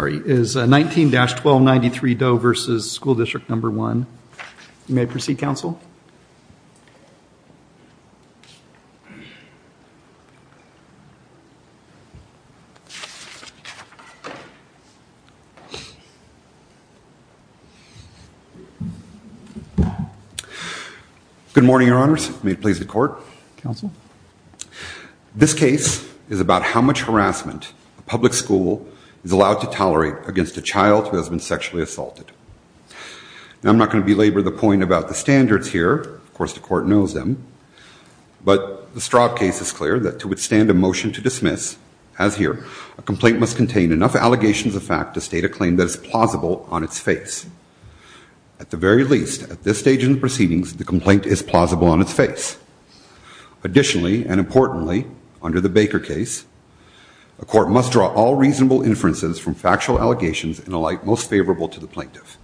Is 19-1293 Doe v. School District Number 1. You may proceed, Counsel. Good morning, Your Honors. May it please the Court. Counsel. This case is about how much harassment a public school is allowed to tolerate against a child who has been sexually assaulted. Now, I'm not going to belabor the point about the standards here. Of course, the Court knows them. But the Straub case is clear that to withstand a motion to dismiss, as here, a complaint must contain enough allegations of fact to state a claim that is plausible on its face. At the very least, at this stage in the proceedings, the complaint is plausible on its face. Additionally, and importantly, under the Baker case, a court must draw all reasonable inferences from factual allegations in a light most favorable to the plaintiff.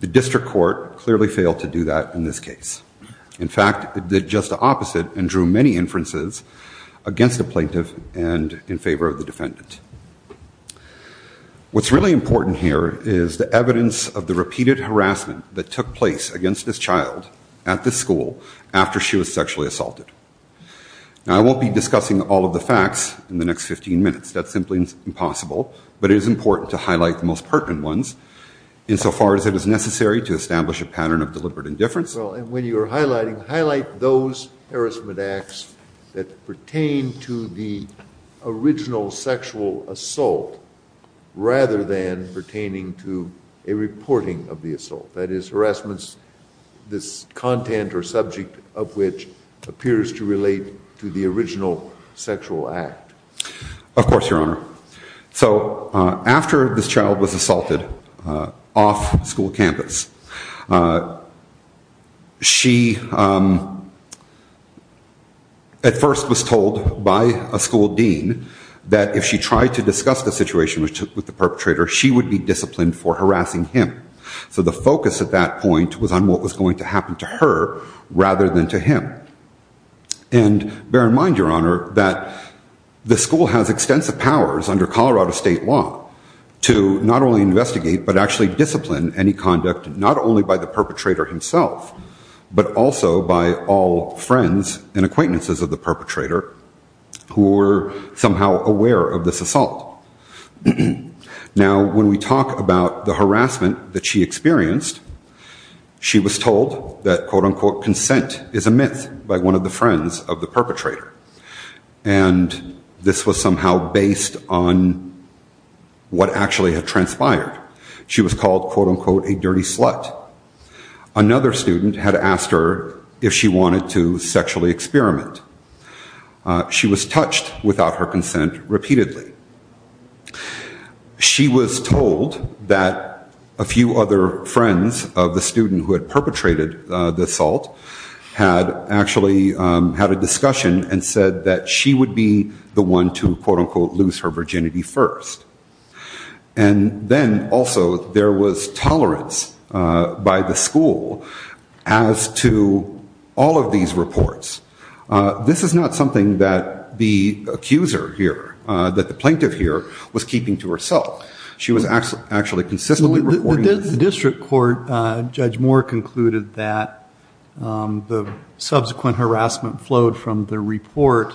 The District Court clearly failed to do that in this case. In fact, it did just the opposite and drew many inferences against the plaintiff and in favor of the defendant. What's really important here is the evidence of the repeated harassment that took place against this child at this school after she was sexually assaulted. Now, I won't be discussing all of the facts in the next 15 minutes. That's simply impossible. But it is important to highlight the most pertinent ones insofar as it is necessary to establish a pattern of deliberate indifference. Well, and when you're highlighting, highlight those harassment acts that pertain to the original sexual assault rather than pertaining to a reporting of the assault. That is, harassments, this content or subject of which appears to relate to the original sexual act. Of course, Your Honor, so after this child was assaulted off school campus, she at first was told by a school dean that if she tried to discuss the situation with the perpetrator, she would be disciplined for harassing him. So the focus at that point was on what was going to happen to her rather than to him. And bear in mind, Your Honor, that the school has extensive powers under Colorado state law to not only investigate but actually discipline any conduct not only by the perpetrator himself but also by all friends and acquaintances of the perpetrator who were somehow aware of this assault. Now, when we talk about the harassment that she experienced, she was told that, quote, unquote, consent is a myth by one of the friends of the perpetrator. And this was somehow based on what actually had transpired. She was called, quote, unquote, a dirty slut. Another student had asked her if she wanted to sexually experiment. She was touched without her consent repeatedly. She was told that a few other friends of the student who had perpetrated the assault had actually had a discussion and said that she would be the one to, quote, unquote, lose her virginity first. And then also there was tolerance by the school as to all of these reports. This is not something that the accuser here, that the plaintiff here was keeping to herself. She was actually consistently reporting this. The district court, Judge Moore, concluded that the subsequent harassment flowed from the report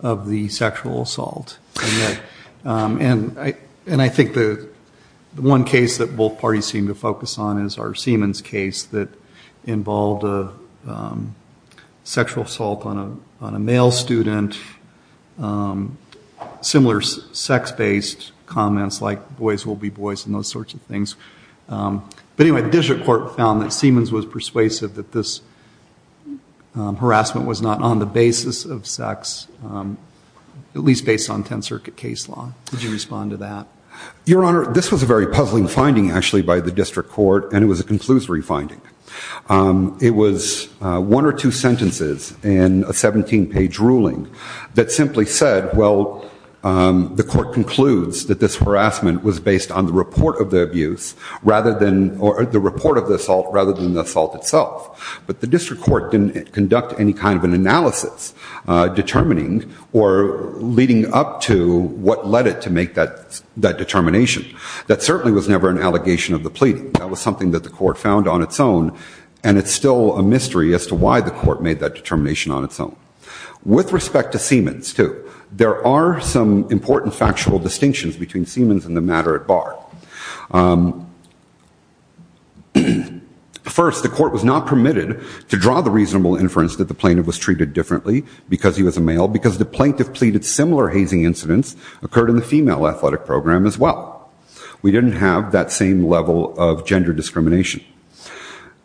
of the sexual assault. And I think the one case that both parties seem to focus on is our Siemens case that involved a sexual assault on a male student, similar sex-based comments like boys will be boys and those sorts of things. But anyway, the district court found that Siemens was persuasive that this harassment was not on the basis of sex, at least based on 10th Circuit case law. Could you respond to that? Your Honor, this was a very puzzling finding, actually, by the district court, and it was a conclusory finding. It was one or two sentences in a 17-page ruling that simply said, well, the court concludes that this harassment was based on the report of the abuse or the report of the assault rather than the assault itself. But the district court didn't conduct any kind of an analysis determining or leading up to what led it to make that determination. That certainly was never an allegation of the pleading. That was something that the court found on its own, and it's still a mystery as to why the court made that determination on its own. With respect to Siemens, too, there are some important factual distinctions between Siemens and the matter at bar. First, the court was not permitted to draw the reasonable inference that the plaintiff was treated differently because he was a male because the plaintiff pleaded similar hazing incidents occurred in the female athletic program as well. We didn't have that same level of gender discrimination.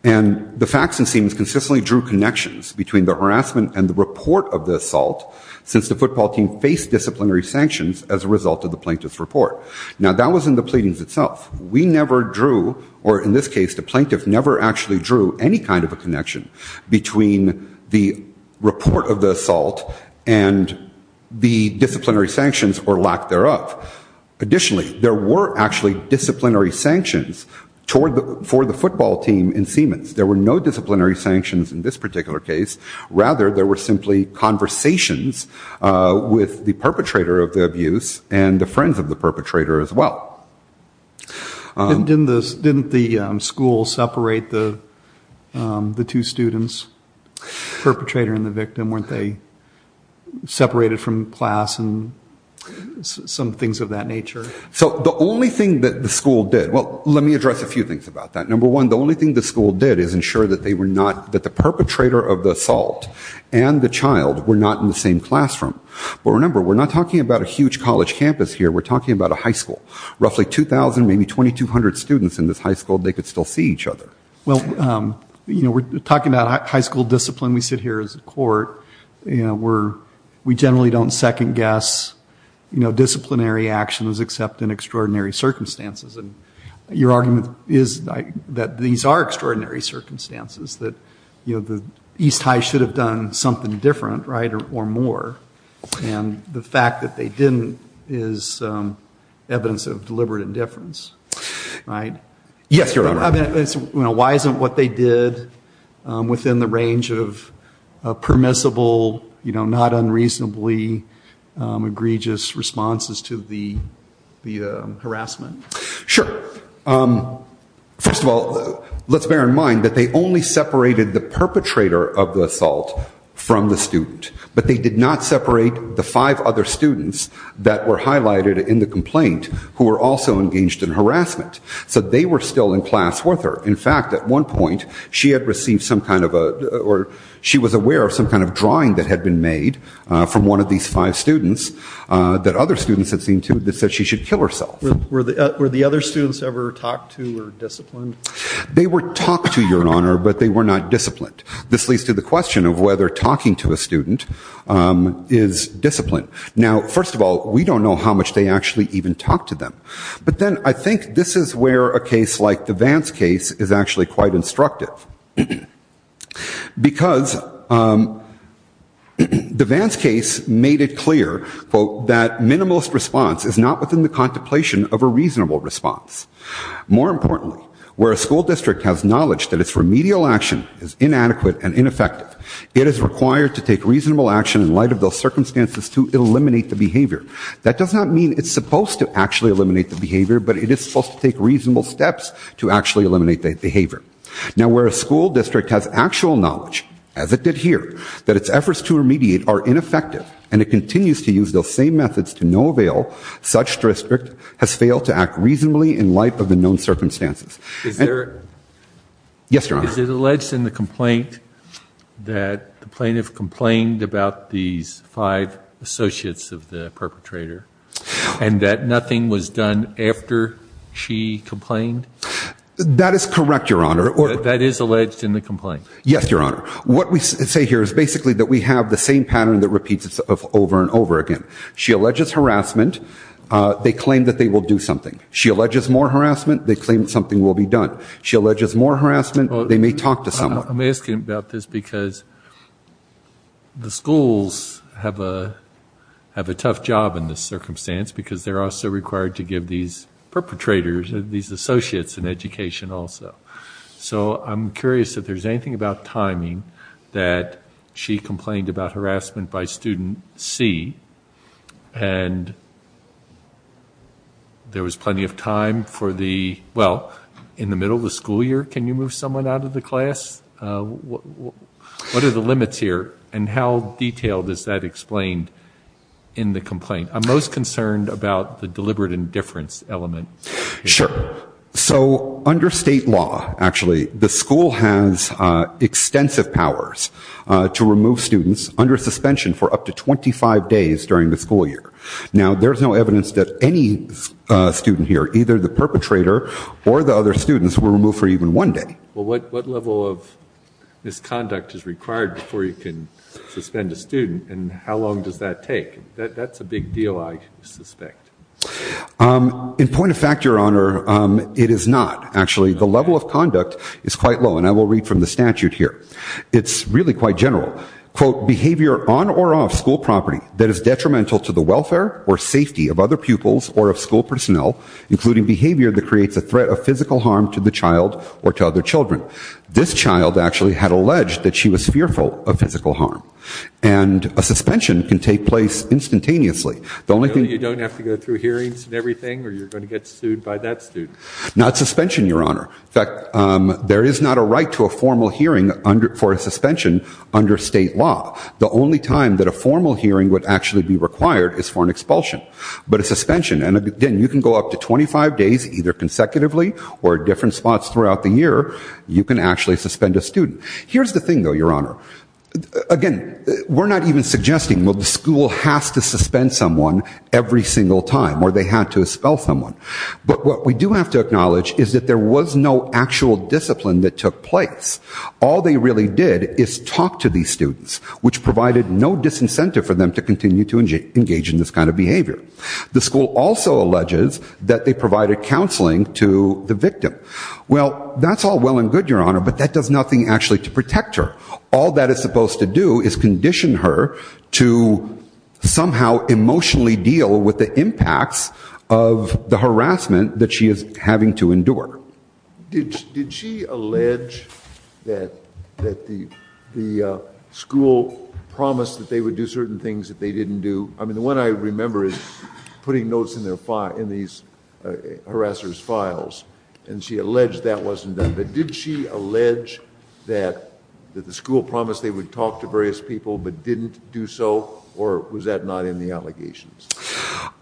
And the facts in Siemens consistently drew connections between the harassment and the report of the assault since the football team faced disciplinary sanctions as a result of the plaintiff's report. Now, that was in the pleadings itself. We never drew, or in this case, the plaintiff never actually drew any kind of a connection between the report of the assault and the disciplinary sanctions or lack thereof. Additionally, there were actually disciplinary sanctions for the football team in Siemens. There were no disciplinary sanctions in this particular case. Rather, there were simply conversations with the perpetrator of the abuse and the friends of the perpetrator as well. Didn't the school separate the two students, perpetrator and the victim? Weren't they separated from class and some things of that nature? So the only thing that the school did, well, let me address a few things about that. Number one, the only thing the school did is ensure that they were not, that the perpetrator of the assault and the child were not in the same classroom. But remember, we're not talking about a huge college campus here. We're talking about a high school. Roughly 2,000, maybe 2,200 students in this high school, they could still see each other. Well, you know, we're talking about high school discipline. We sit here as a court. You know, we generally don't second-guess, you know, disciplinary actions except in extraordinary circumstances. And your argument is that these are extraordinary circumstances, that, you know, the East High should have done something different, right, or more. And the fact that they didn't is evidence of deliberate indifference, right? Yes, Your Honor. Why isn't what they did within the range of permissible, you know, not unreasonably egregious responses to the harassment? Sure. First of all, let's bear in mind that they only separated the perpetrator of the assault from the student. But they did not separate the five other students that were highlighted in the complaint who were also engaged in harassment. So they were still in class with her. In fact, at one point, she had received some kind of a, or she was aware of some kind of drawing that had been made from one of these five students that other students had seen too that said she should kill herself. Were the other students ever talked to or disciplined? They were talked to, Your Honor, but they were not disciplined. This leads to the question of whether talking to a student is disciplined. Now, first of all, we don't know how much they actually even talked to them. But then I think this is where a case like the Vance case is actually quite instructive. Because the Vance case made it clear, quote, that minimalist response is not within the contemplation of a reasonable response. More importantly, where a school district has knowledge that its remedial action is inadequate and ineffective, it is required to take reasonable action in light of those circumstances to eliminate the behavior. That does not mean it's supposed to actually eliminate the behavior, but it is supposed to take reasonable steps to actually eliminate the behavior. Now, where a school district has actual knowledge, as it did here, that its efforts to remediate are ineffective and it continues to use those same methods to no avail, such district has failed to act reasonably in light of the known circumstances. Is there? Yes, Your Honor. Is it alleged in the complaint that the plaintiff complained about these five associates of the perpetrator and that nothing was done after she complained? That is correct, Your Honor. That is alleged in the complaint. Yes, Your Honor. What we say here is basically that we have the same pattern that repeats itself over and over again. She alleges harassment. They claim that they will do something. She alleges more harassment. They claim something will be done. She alleges more harassment. They may talk to someone. I'm asking about this because the schools have a tough job in this circumstance because they're also required to give these perpetrators, these associates, an education also. So I'm curious if there's anything about timing that she complained about harassment by student C and there was plenty of time for the, well, in the middle of the school year. Can you move someone out of the class? What are the limits here and how detailed is that explained in the complaint? I'm most concerned about the deliberate indifference element. Sure. So under state law, actually, the school has extensive powers to remove students under suspension for up to 25 days during the school year. Now, there's no evidence that any student here, either the perpetrator or the other students, were removed for even one day. Well, what level of misconduct is required before you can suspend a student and how long does that take? That's a big deal, I suspect. In point of fact, Your Honor, it is not. Actually, the level of conduct is quite low, and I will read from the statute here. It's really quite general. Quote, behavior on or off school property that is detrimental to the welfare or safety of other pupils or of school personnel, including behavior that creates a threat of physical harm to the child or to other children. This child actually had alleged that she was fearful of physical harm. And a suspension can take place instantaneously. You don't have to go through hearings and everything or you're going to get sued by that student? Not suspension, Your Honor. In fact, there is not a right to a formal hearing for a suspension under state law. The only time that a formal hearing would actually be required is for an expulsion. But a suspension, and again, you can go up to 25 days either consecutively or different spots throughout the year, you can actually suspend a student. Here's the thing, though, Your Honor. Again, we're not even suggesting, well, the school has to suspend someone every single time or they had to expel someone. But what we do have to acknowledge is that there was no actual discipline that took place. All they really did is talk to these students, which provided no disincentive for them to continue to engage in this kind of behavior. The school also alleges that they provided counseling to the victim. Well, that's all well and good, Your Honor, but that does nothing actually to protect her. All that is supposed to do is condition her to somehow emotionally deal with the impacts of the harassment that she is having to endure. Did she allege that the school promised that they would do certain things that they didn't do? I mean, the one I remember is putting notes in these harassers' files, and she alleged that wasn't done. But did she allege that the school promised they would talk to various people but didn't do so, or was that not in the allegations?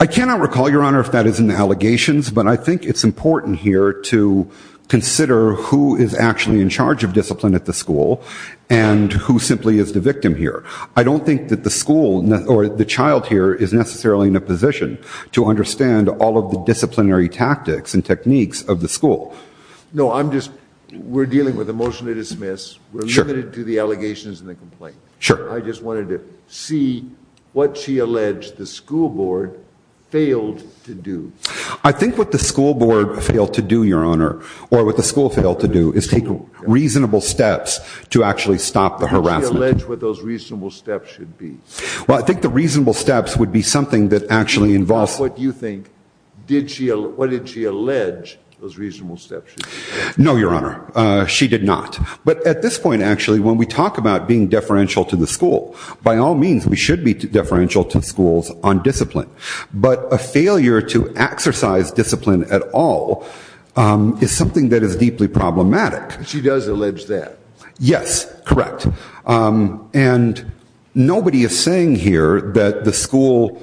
I cannot recall, Your Honor, if that is in the allegations, but I think it's important here to consider who is actually in charge of discipline at the school and who simply is the victim here. I don't think that the school or the child here is necessarily in a position to understand all of the disciplinary tactics and techniques of the school. No, I'm just ‑‑ we're dealing with a motion to dismiss. We're limited to the allegations and the complaint. Sure. I just wanted to see what she alleged the school board failed to do. I think what the school board failed to do, Your Honor, or what the school failed to do is take reasonable steps to actually stop the harassment. Did she allege what those reasonable steps should be? Well, I think the reasonable steps would be something that actually involves ‑‑ No, Your Honor. She did not. But at this point, actually, when we talk about being deferential to the school, by all means, we should be deferential to schools on discipline. But a failure to exercise discipline at all is something that is deeply problematic. She does allege that. Yes, correct. And nobody is saying here that the school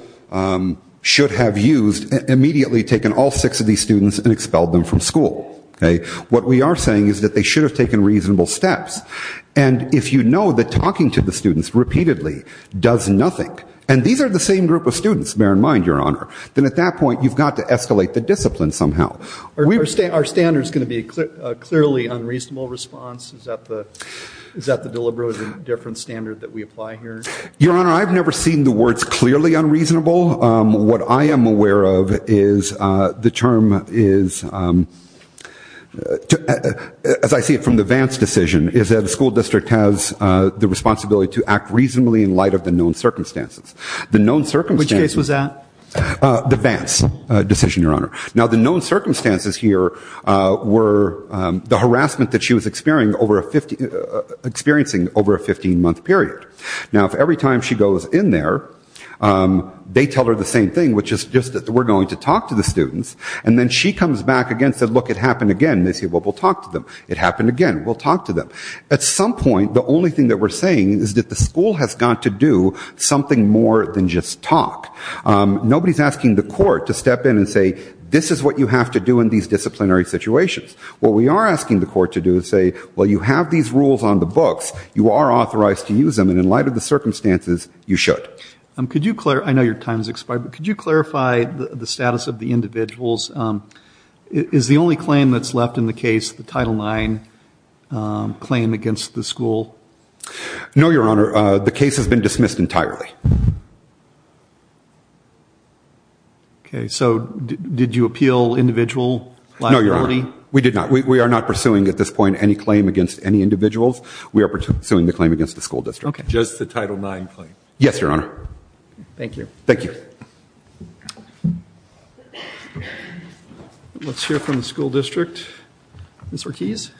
should have used, immediately taken all six of these students and expelled them from school. Okay? What we are saying is that they should have taken reasonable steps. And if you know that talking to the students repeatedly does nothing, and these are the same group of students, bear in mind, Your Honor, then at that point you've got to escalate the discipline somehow. Are standards going to be a clearly unreasonable response? Is that the deliberate difference standard that we apply here? Your Honor, I've never seen the words clearly unreasonable. What I am aware of is the term is, as I see it from the Vance decision, is that the school district has the responsibility to act reasonably in light of the known circumstances. Which case was that? The Vance decision, Your Honor. Now, the known circumstances here were the harassment that she was experiencing over a 15-month period. Now, if every time she goes in there, they tell her the same thing, which is just that we're going to talk to the students, and then she comes back again and says, look, it happened again. They say, well, we'll talk to them. It happened again. We'll talk to them. At some point, the only thing that we're saying is that the school has got to do something more than just talk. Nobody is asking the court to step in and say, this is what you have to do in these disciplinary situations. What we are asking the court to do is say, well, you have these rules on the books. You are authorized to use them. And in light of the circumstances, you should. I know your time has expired, but could you clarify the status of the individuals? Is the only claim that's left in the case the Title IX claim against the school? No, Your Honor. The case has been dismissed entirely. Okay. So did you appeal individual liability? No, Your Honor. We did not. We are not pursuing at this point any claim against any individuals. We are pursuing the claim against the school district. Okay. Just the Title IX claim? Yes, Your Honor. Thank you. Thank you. Let's hear from the school district. Ms. Ortiz?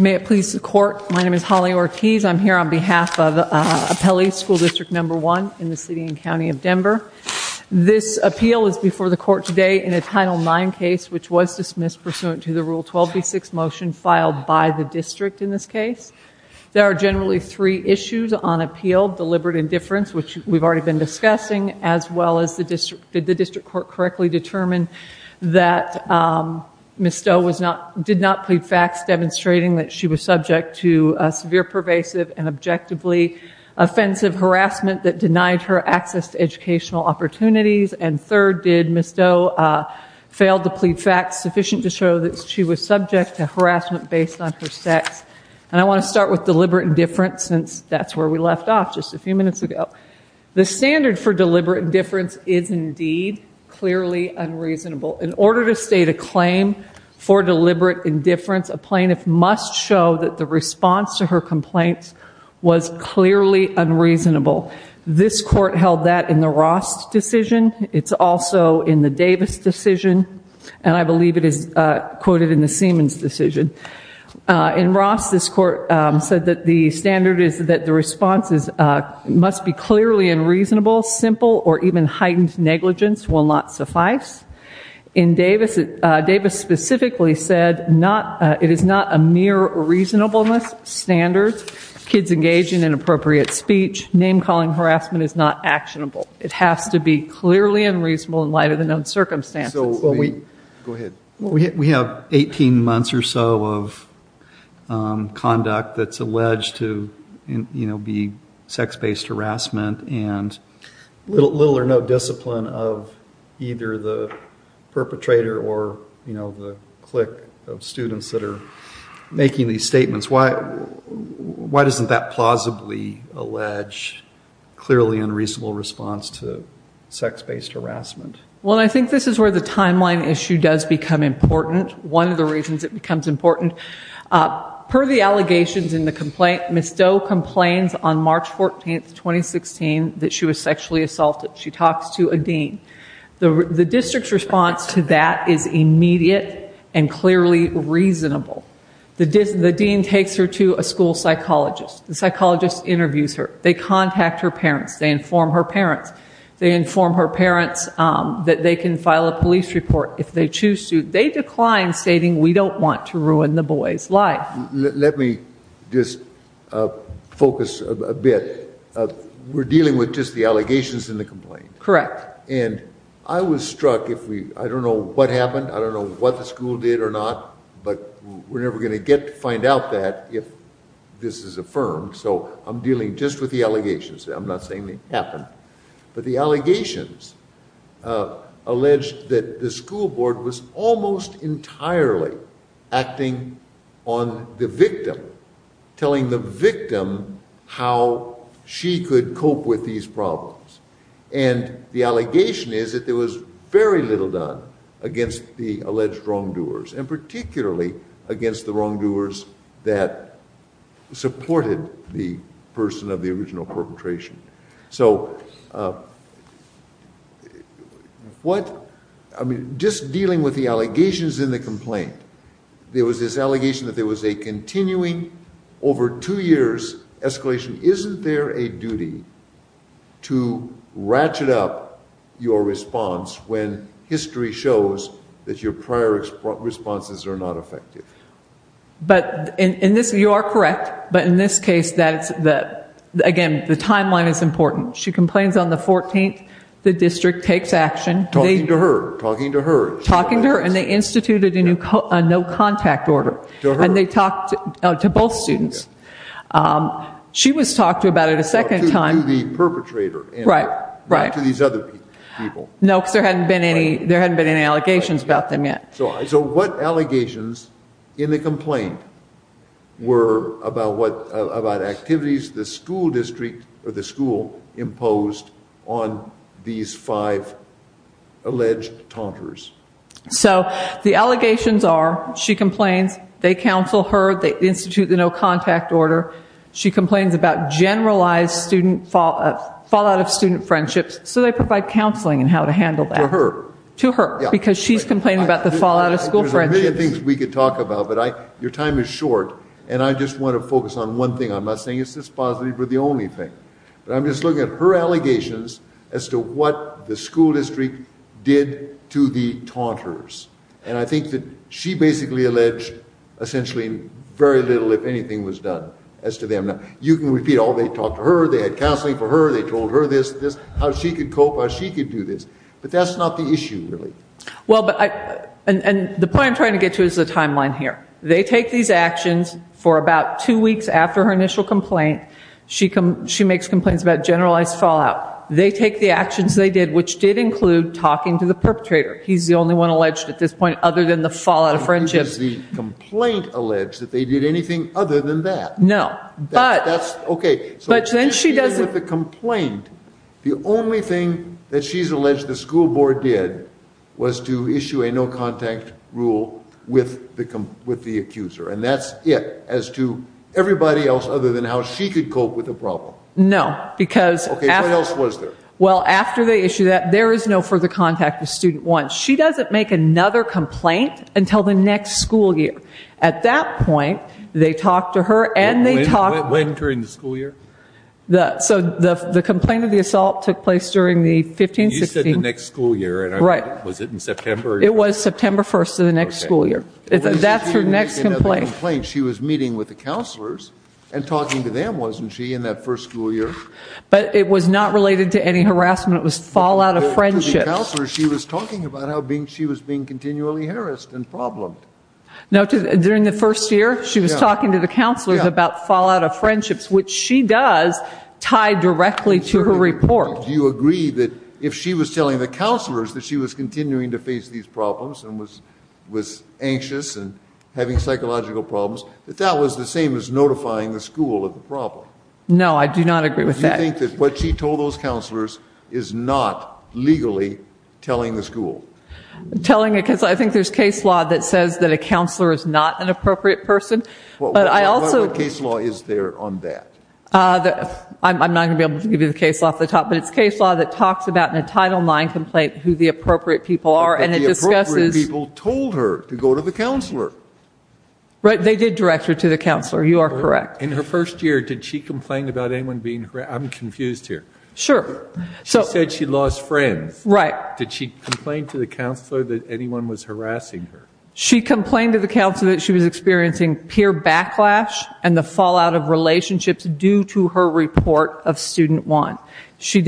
May it please the court, my name is Holly Ortiz. I'm here on behalf of Appellee School District No. 1 in the city and county of Denver. This appeal is before the court today in a Title IX case, which was dismissed pursuant to the Rule 12b6 motion filed by the district in this case. There are generally three issues on appeal. Deliberate indifference, which we've already been discussing, as well as did the district court correctly determine that Ms. Stowe did not plead facts demonstrating that she was subject to severe pervasive and objectively offensive harassment that denied her access to educational opportunities, and third, did Ms. Stowe fail to plead facts sufficient to show that she was subject to harassment based on her sex. And I want to start with deliberate indifference since that's where we left off just a few minutes ago. The standard for deliberate indifference is indeed clearly unreasonable. In order to state a claim for deliberate indifference, a plaintiff must show that the response to her complaints was clearly unreasonable. This court held that in the Ross decision. It's also in the Davis decision, and I believe it is quoted in the Siemens decision. In Ross, this court said that the standard is that the response must be clearly unreasonable, simple, or even heightened negligence will not suffice. In Davis, Davis specifically said it is not a mere reasonableness standard. With kids engaging in inappropriate speech, name-calling harassment is not actionable. It has to be clearly unreasonable in light of the known circumstances. We have 18 months or so of conduct that's alleged to be sex-based harassment and little or no discipline of either the perpetrator or the clique of students that are making these statements. Why doesn't that plausibly allege clearly unreasonable response to sex-based harassment? Well, I think this is where the timeline issue does become important. One of the reasons it becomes important, per the allegations in the complaint, Ms. Doe complains on March 14, 2016, that she was sexually assaulted. She talks to a dean. The district's response to that is immediate and clearly reasonable. The dean takes her to a school psychologist. The psychologist interviews her. They contact her parents. They inform her parents. They inform her parents that they can file a police report if they choose to. They decline, stating we don't want to ruin the boy's life. Let me just focus a bit. We're dealing with just the allegations in the complaint. Correct. I was struck. I don't know what happened. I don't know what the school did or not, but we're never going to find out that if this is affirmed. So I'm dealing just with the allegations. I'm not saying it happened. But the allegations allege that the school board was almost entirely acting on the victim, telling the victim how she could cope with these problems. And the allegation is that there was very little done against the alleged wrongdoers and particularly against the wrongdoers that supported the person of the original perpetration. So just dealing with the allegations in the complaint, there was this allegation that there was a continuing over two years escalation. Isn't there a duty to ratchet up your response when history shows that your prior responses are not effective? You are correct. But in this case, again, the timeline is important. She complains on the 14th. The district takes action. Talking to her. Talking to her. Talking to her. And they instituted a no contact order. And they talked to both students. She was talked to about it a second time. To the perpetrator. Right, right. Not to these other people. No, because there hadn't been any allegations about them yet. So what allegations in the complaint were about activities the school imposed on these five alleged taunters? So the allegations are, she complains, they counsel her, they institute the no contact order. She complains about generalized student fallout of student friendships. So they provide counseling on how to handle that. To her. To her. Because she's complaining about the fallout of school friendships. There's a million things we could talk about, but your time is short. And I just want to focus on one thing. I'm not saying it's this positive or the only thing. But I'm just looking at her allegations as to what the school district did to the taunters. And I think that she basically alleged essentially very little, if anything, was done as to them. You can repeat, oh, they talked to her. They had counseling for her. They told her this, this. How she could cope. How she could do this. But that's not the issue, really. Well, and the point I'm trying to get to is the timeline here. They take these actions for about two weeks after her initial complaint. She makes complaints about generalized fallout. They take the actions they did, which did include talking to the perpetrator. He's the only one alleged at this point other than the fallout of friendships. Does the complaint allege that they did anything other than that? No. That's okay. But then she doesn't. So she's dealing with the complaint. The only thing that she's alleged the school board did was to issue a no-contact rule with the accuser. And that's it as to everybody else other than how she could cope with the problem. No. Okay. What else was there? Well, after they issue that, there is no further contact with student one. She doesn't make another complaint until the next school year. At that point, they talk to her and they talk to her. When during the school year? So the complaint of the assault took place during the 15-16. You said the next school year. Right. Was it in September? It was September 1st of the next school year. That's her next complaint. She was meeting with the counselors and talking to them, wasn't she, in that first school year? But it was not related to any harassment. It was fallout of friendships. She was talking about how she was being continually harassed and problemed. During the first year, she was talking to the counselors about fallout of friendships, which she does, tied directly to her report. Do you agree that if she was telling the counselors that she was continuing to face these problems and was anxious and having psychological problems, that that was the same as notifying the school of the problem? No, I do not agree with that. Do you think that what she told those counselors is not legally telling the school? Telling it because I think there is case law that says that a counselor is not an appropriate person. What case law is there on that? I'm not going to be able to give you the case law off the top, but it's case law that talks about in a Title IX complaint who the appropriate people are. But the appropriate people told her to go to the counselor. Right, they did direct her to the counselor. You are correct. In her first year, did she complain about anyone being harassed? I'm confused here. Sure. She said she lost friends. Right. Did she complain to the counselor that anyone was harassing her? She complained to the counselor that she was experiencing peer backlash and the fallout of relationships due to her report of Student One.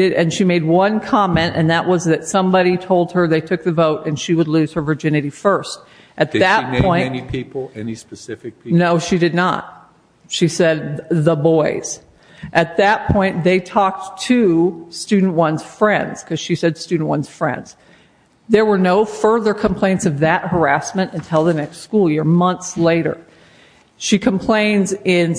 And she made one comment, and that was that somebody told her they took the vote and she would lose her virginity first. Did she name any people, any specific people? No, she did not. She said the boys. At that point, they talked to Student One's friends because she said Student One's friends. There were no further complaints of that harassment until the next school year, months later. She complains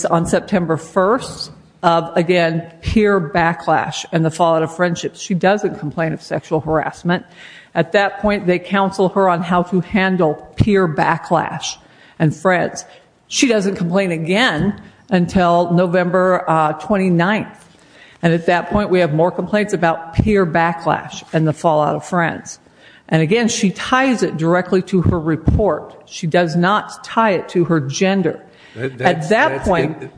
on September 1st of, again, peer backlash and the fallout of friendships. She doesn't complain of sexual harassment. At that point, they counsel her on how to handle peer backlash and friends. She doesn't complain again until November 29th. At that point, we have more complaints about peer backlash and the fallout of friends. Again, she ties it directly to her report. She does not tie it to her gender. When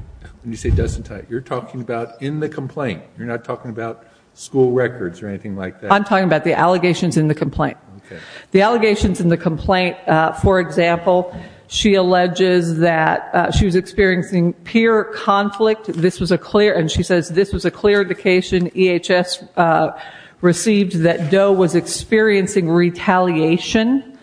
you say doesn't tie it, you're talking about in the complaint. You're not talking about school records or anything like that. I'm talking about the allegations in the complaint. The allegations in the complaint, for example, she alleges that she was experiencing peer conflict. She says this was a clear indication EHS received that Doe was experiencing retaliation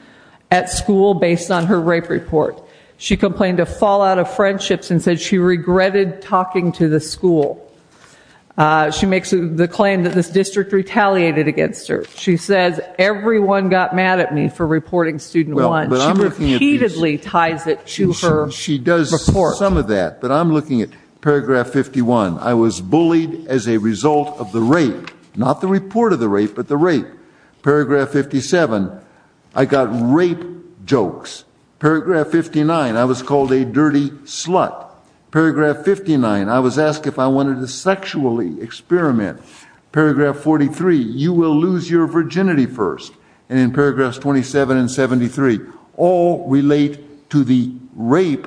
at school based on her rape report. She complained of fallout of friendships and said she regretted talking to the school. She makes the claim that this district retaliated against her. She says everyone got mad at me for reporting Student One. She repeatedly ties it to her report. She does some of that, but I'm looking at paragraph 51. I was bullied as a result of the rape, not the report of the rape, but the rape. Paragraph 57, I got rape jokes. Paragraph 59, I was called a dirty slut. Paragraph 59, I was asked if I wanted to sexually experiment. Paragraph 43, you will lose your virginity first. And in paragraphs 27 and 73, all relate to the rape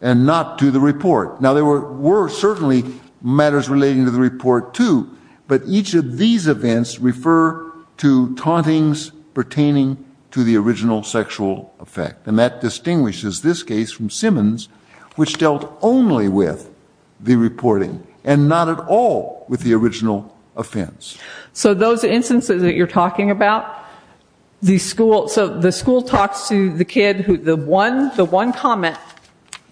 and not to the report. Now, there were certainly matters relating to the report, too. But each of these events refer to tauntings pertaining to the original sexual effect. And that distinguishes this case from Simmons, which dealt only with the reporting and not at all with the original offense. So those instances that you're talking about, the school talks to the kid. The one comment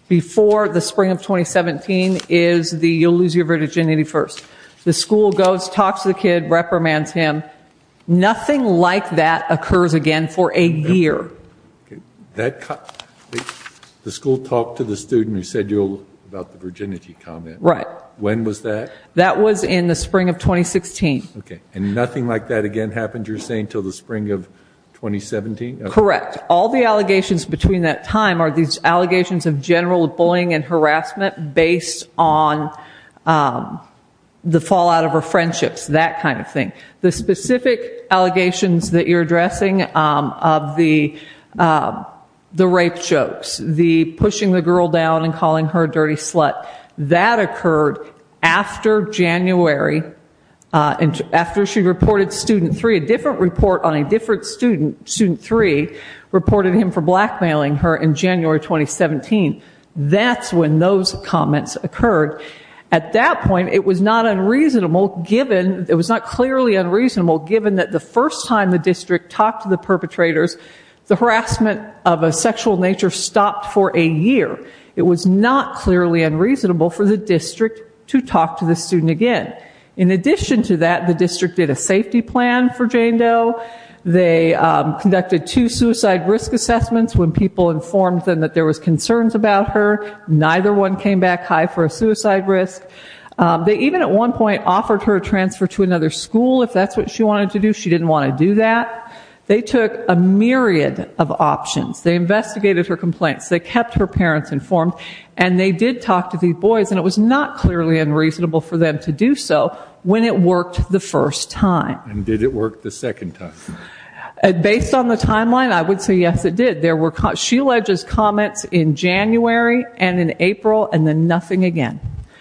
before the spring of 2017 is you'll lose your virginity first. The school goes, talks to the kid, reprimands him. Nothing like that occurs again for a year. The school talked to the student who said about the virginity comment. Right. When was that? That was in the spring of 2016. Okay. And nothing like that again happened, you're saying, until the spring of 2017? Correct. All the allegations between that time are these allegations of general bullying and harassment based on the fallout of our friendships, that kind of thing. The specific allegations that you're addressing of the rape jokes, the pushing the girl down and calling her a dirty slut, that occurred after January. After she reported student three, a different report on a different student, student three, reported him for blackmailing her in January 2017. That's when those comments occurred. At that point, it was not unreasonable, it was not clearly unreasonable, given that the first time the district talked to the perpetrators, the harassment of a sexual nature stopped for a year. It was not clearly unreasonable for the district to talk to the student again. In addition to that, the district did a safety plan for Jane Doe. They conducted two suicide risk assessments when people informed them that there was concerns about her. Neither one came back high for a suicide risk. They even at one point offered her a transfer to another school if that's what she wanted to do. She didn't want to do that. They took a myriad of options. They investigated her complaints. They kept her parents informed. And they did talk to these boys, and it was not clearly unreasonable for them to do so when it worked the first time. And did it work the second time? Based on the timeline, I would say yes, it did. She alleges comments in January and in April and then nothing again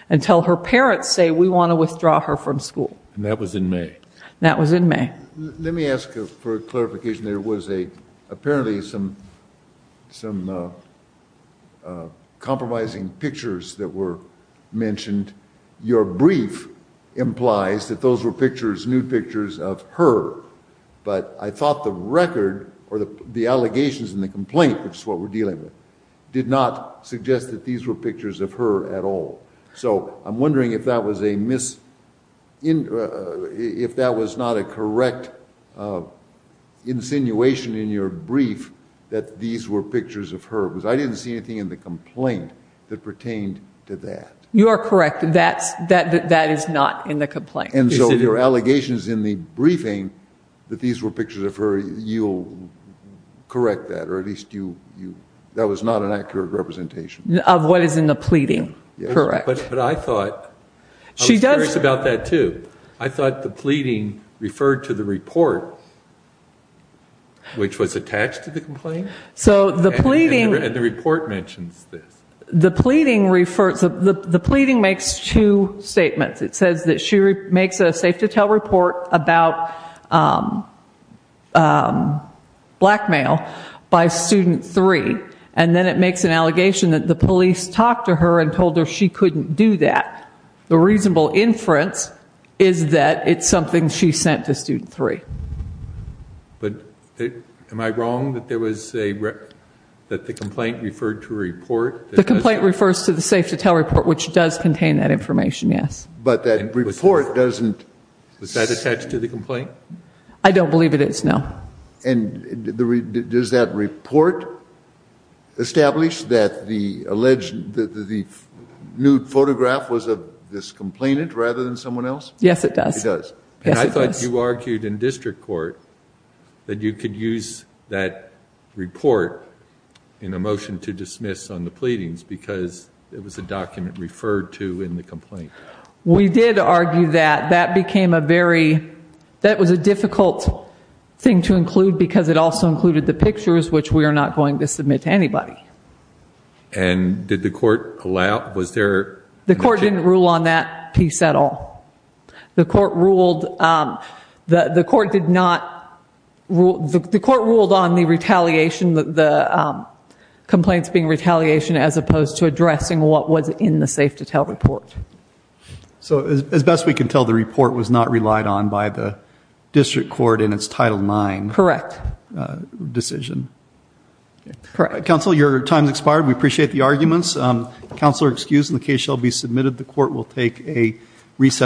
until her parents say, we want to withdraw her from school. And that was in May. That was in May. Let me ask for clarification. There was apparently some compromising pictures that were mentioned. Your brief implies that those were pictures, nude pictures of her. But I thought the record or the allegations in the complaint, which is what we're dealing with, did not suggest that these were pictures of her at all. So I'm wondering if that was not a correct insinuation in your brief that these were pictures of her. Because I didn't see anything in the complaint that pertained to that. You are correct. That is not in the complaint. And so your allegations in the briefing that these were pictures of her, you'll correct that, or at least that was not an accurate representation. Of what is in the pleading, correct. But I thought, I was curious about that, too. I thought the pleading referred to the report, which was attached to the complaint. And the report mentions this. The pleading makes two statements. It says that she makes a safe-to-tell report about blackmail by student three. And then it makes an allegation that the police talked to her and told her she couldn't do that. The reasonable inference is that it's something she sent to student three. But am I wrong that the complaint referred to a report? The complaint refers to the safe-to-tell report, which does contain that information, yes. But that report doesn't. Was that attached to the complaint? I don't believe it is, no. And does that report establish that the nude photograph was of this complainant rather than someone else? Yes, it does. It does. And I thought you argued in district court that you could use that report in a motion to dismiss on the pleadings because it was a document referred to in the complaint. We did argue that. That became a very, that was a difficult thing to include because it also included the pictures, which we are not going to submit to anybody. And did the court allow, was there? The court didn't rule on that piece at all. The court ruled on the retaliation, the complaints being retaliation, as opposed to addressing what was in the safe-to-tell report. So as best we can tell, the report was not relied on by the district court in its Title IX decision. Correct. Counsel, your time has expired. We appreciate the arguments. Counsel are excused and the case shall be submitted. The court will take a recess.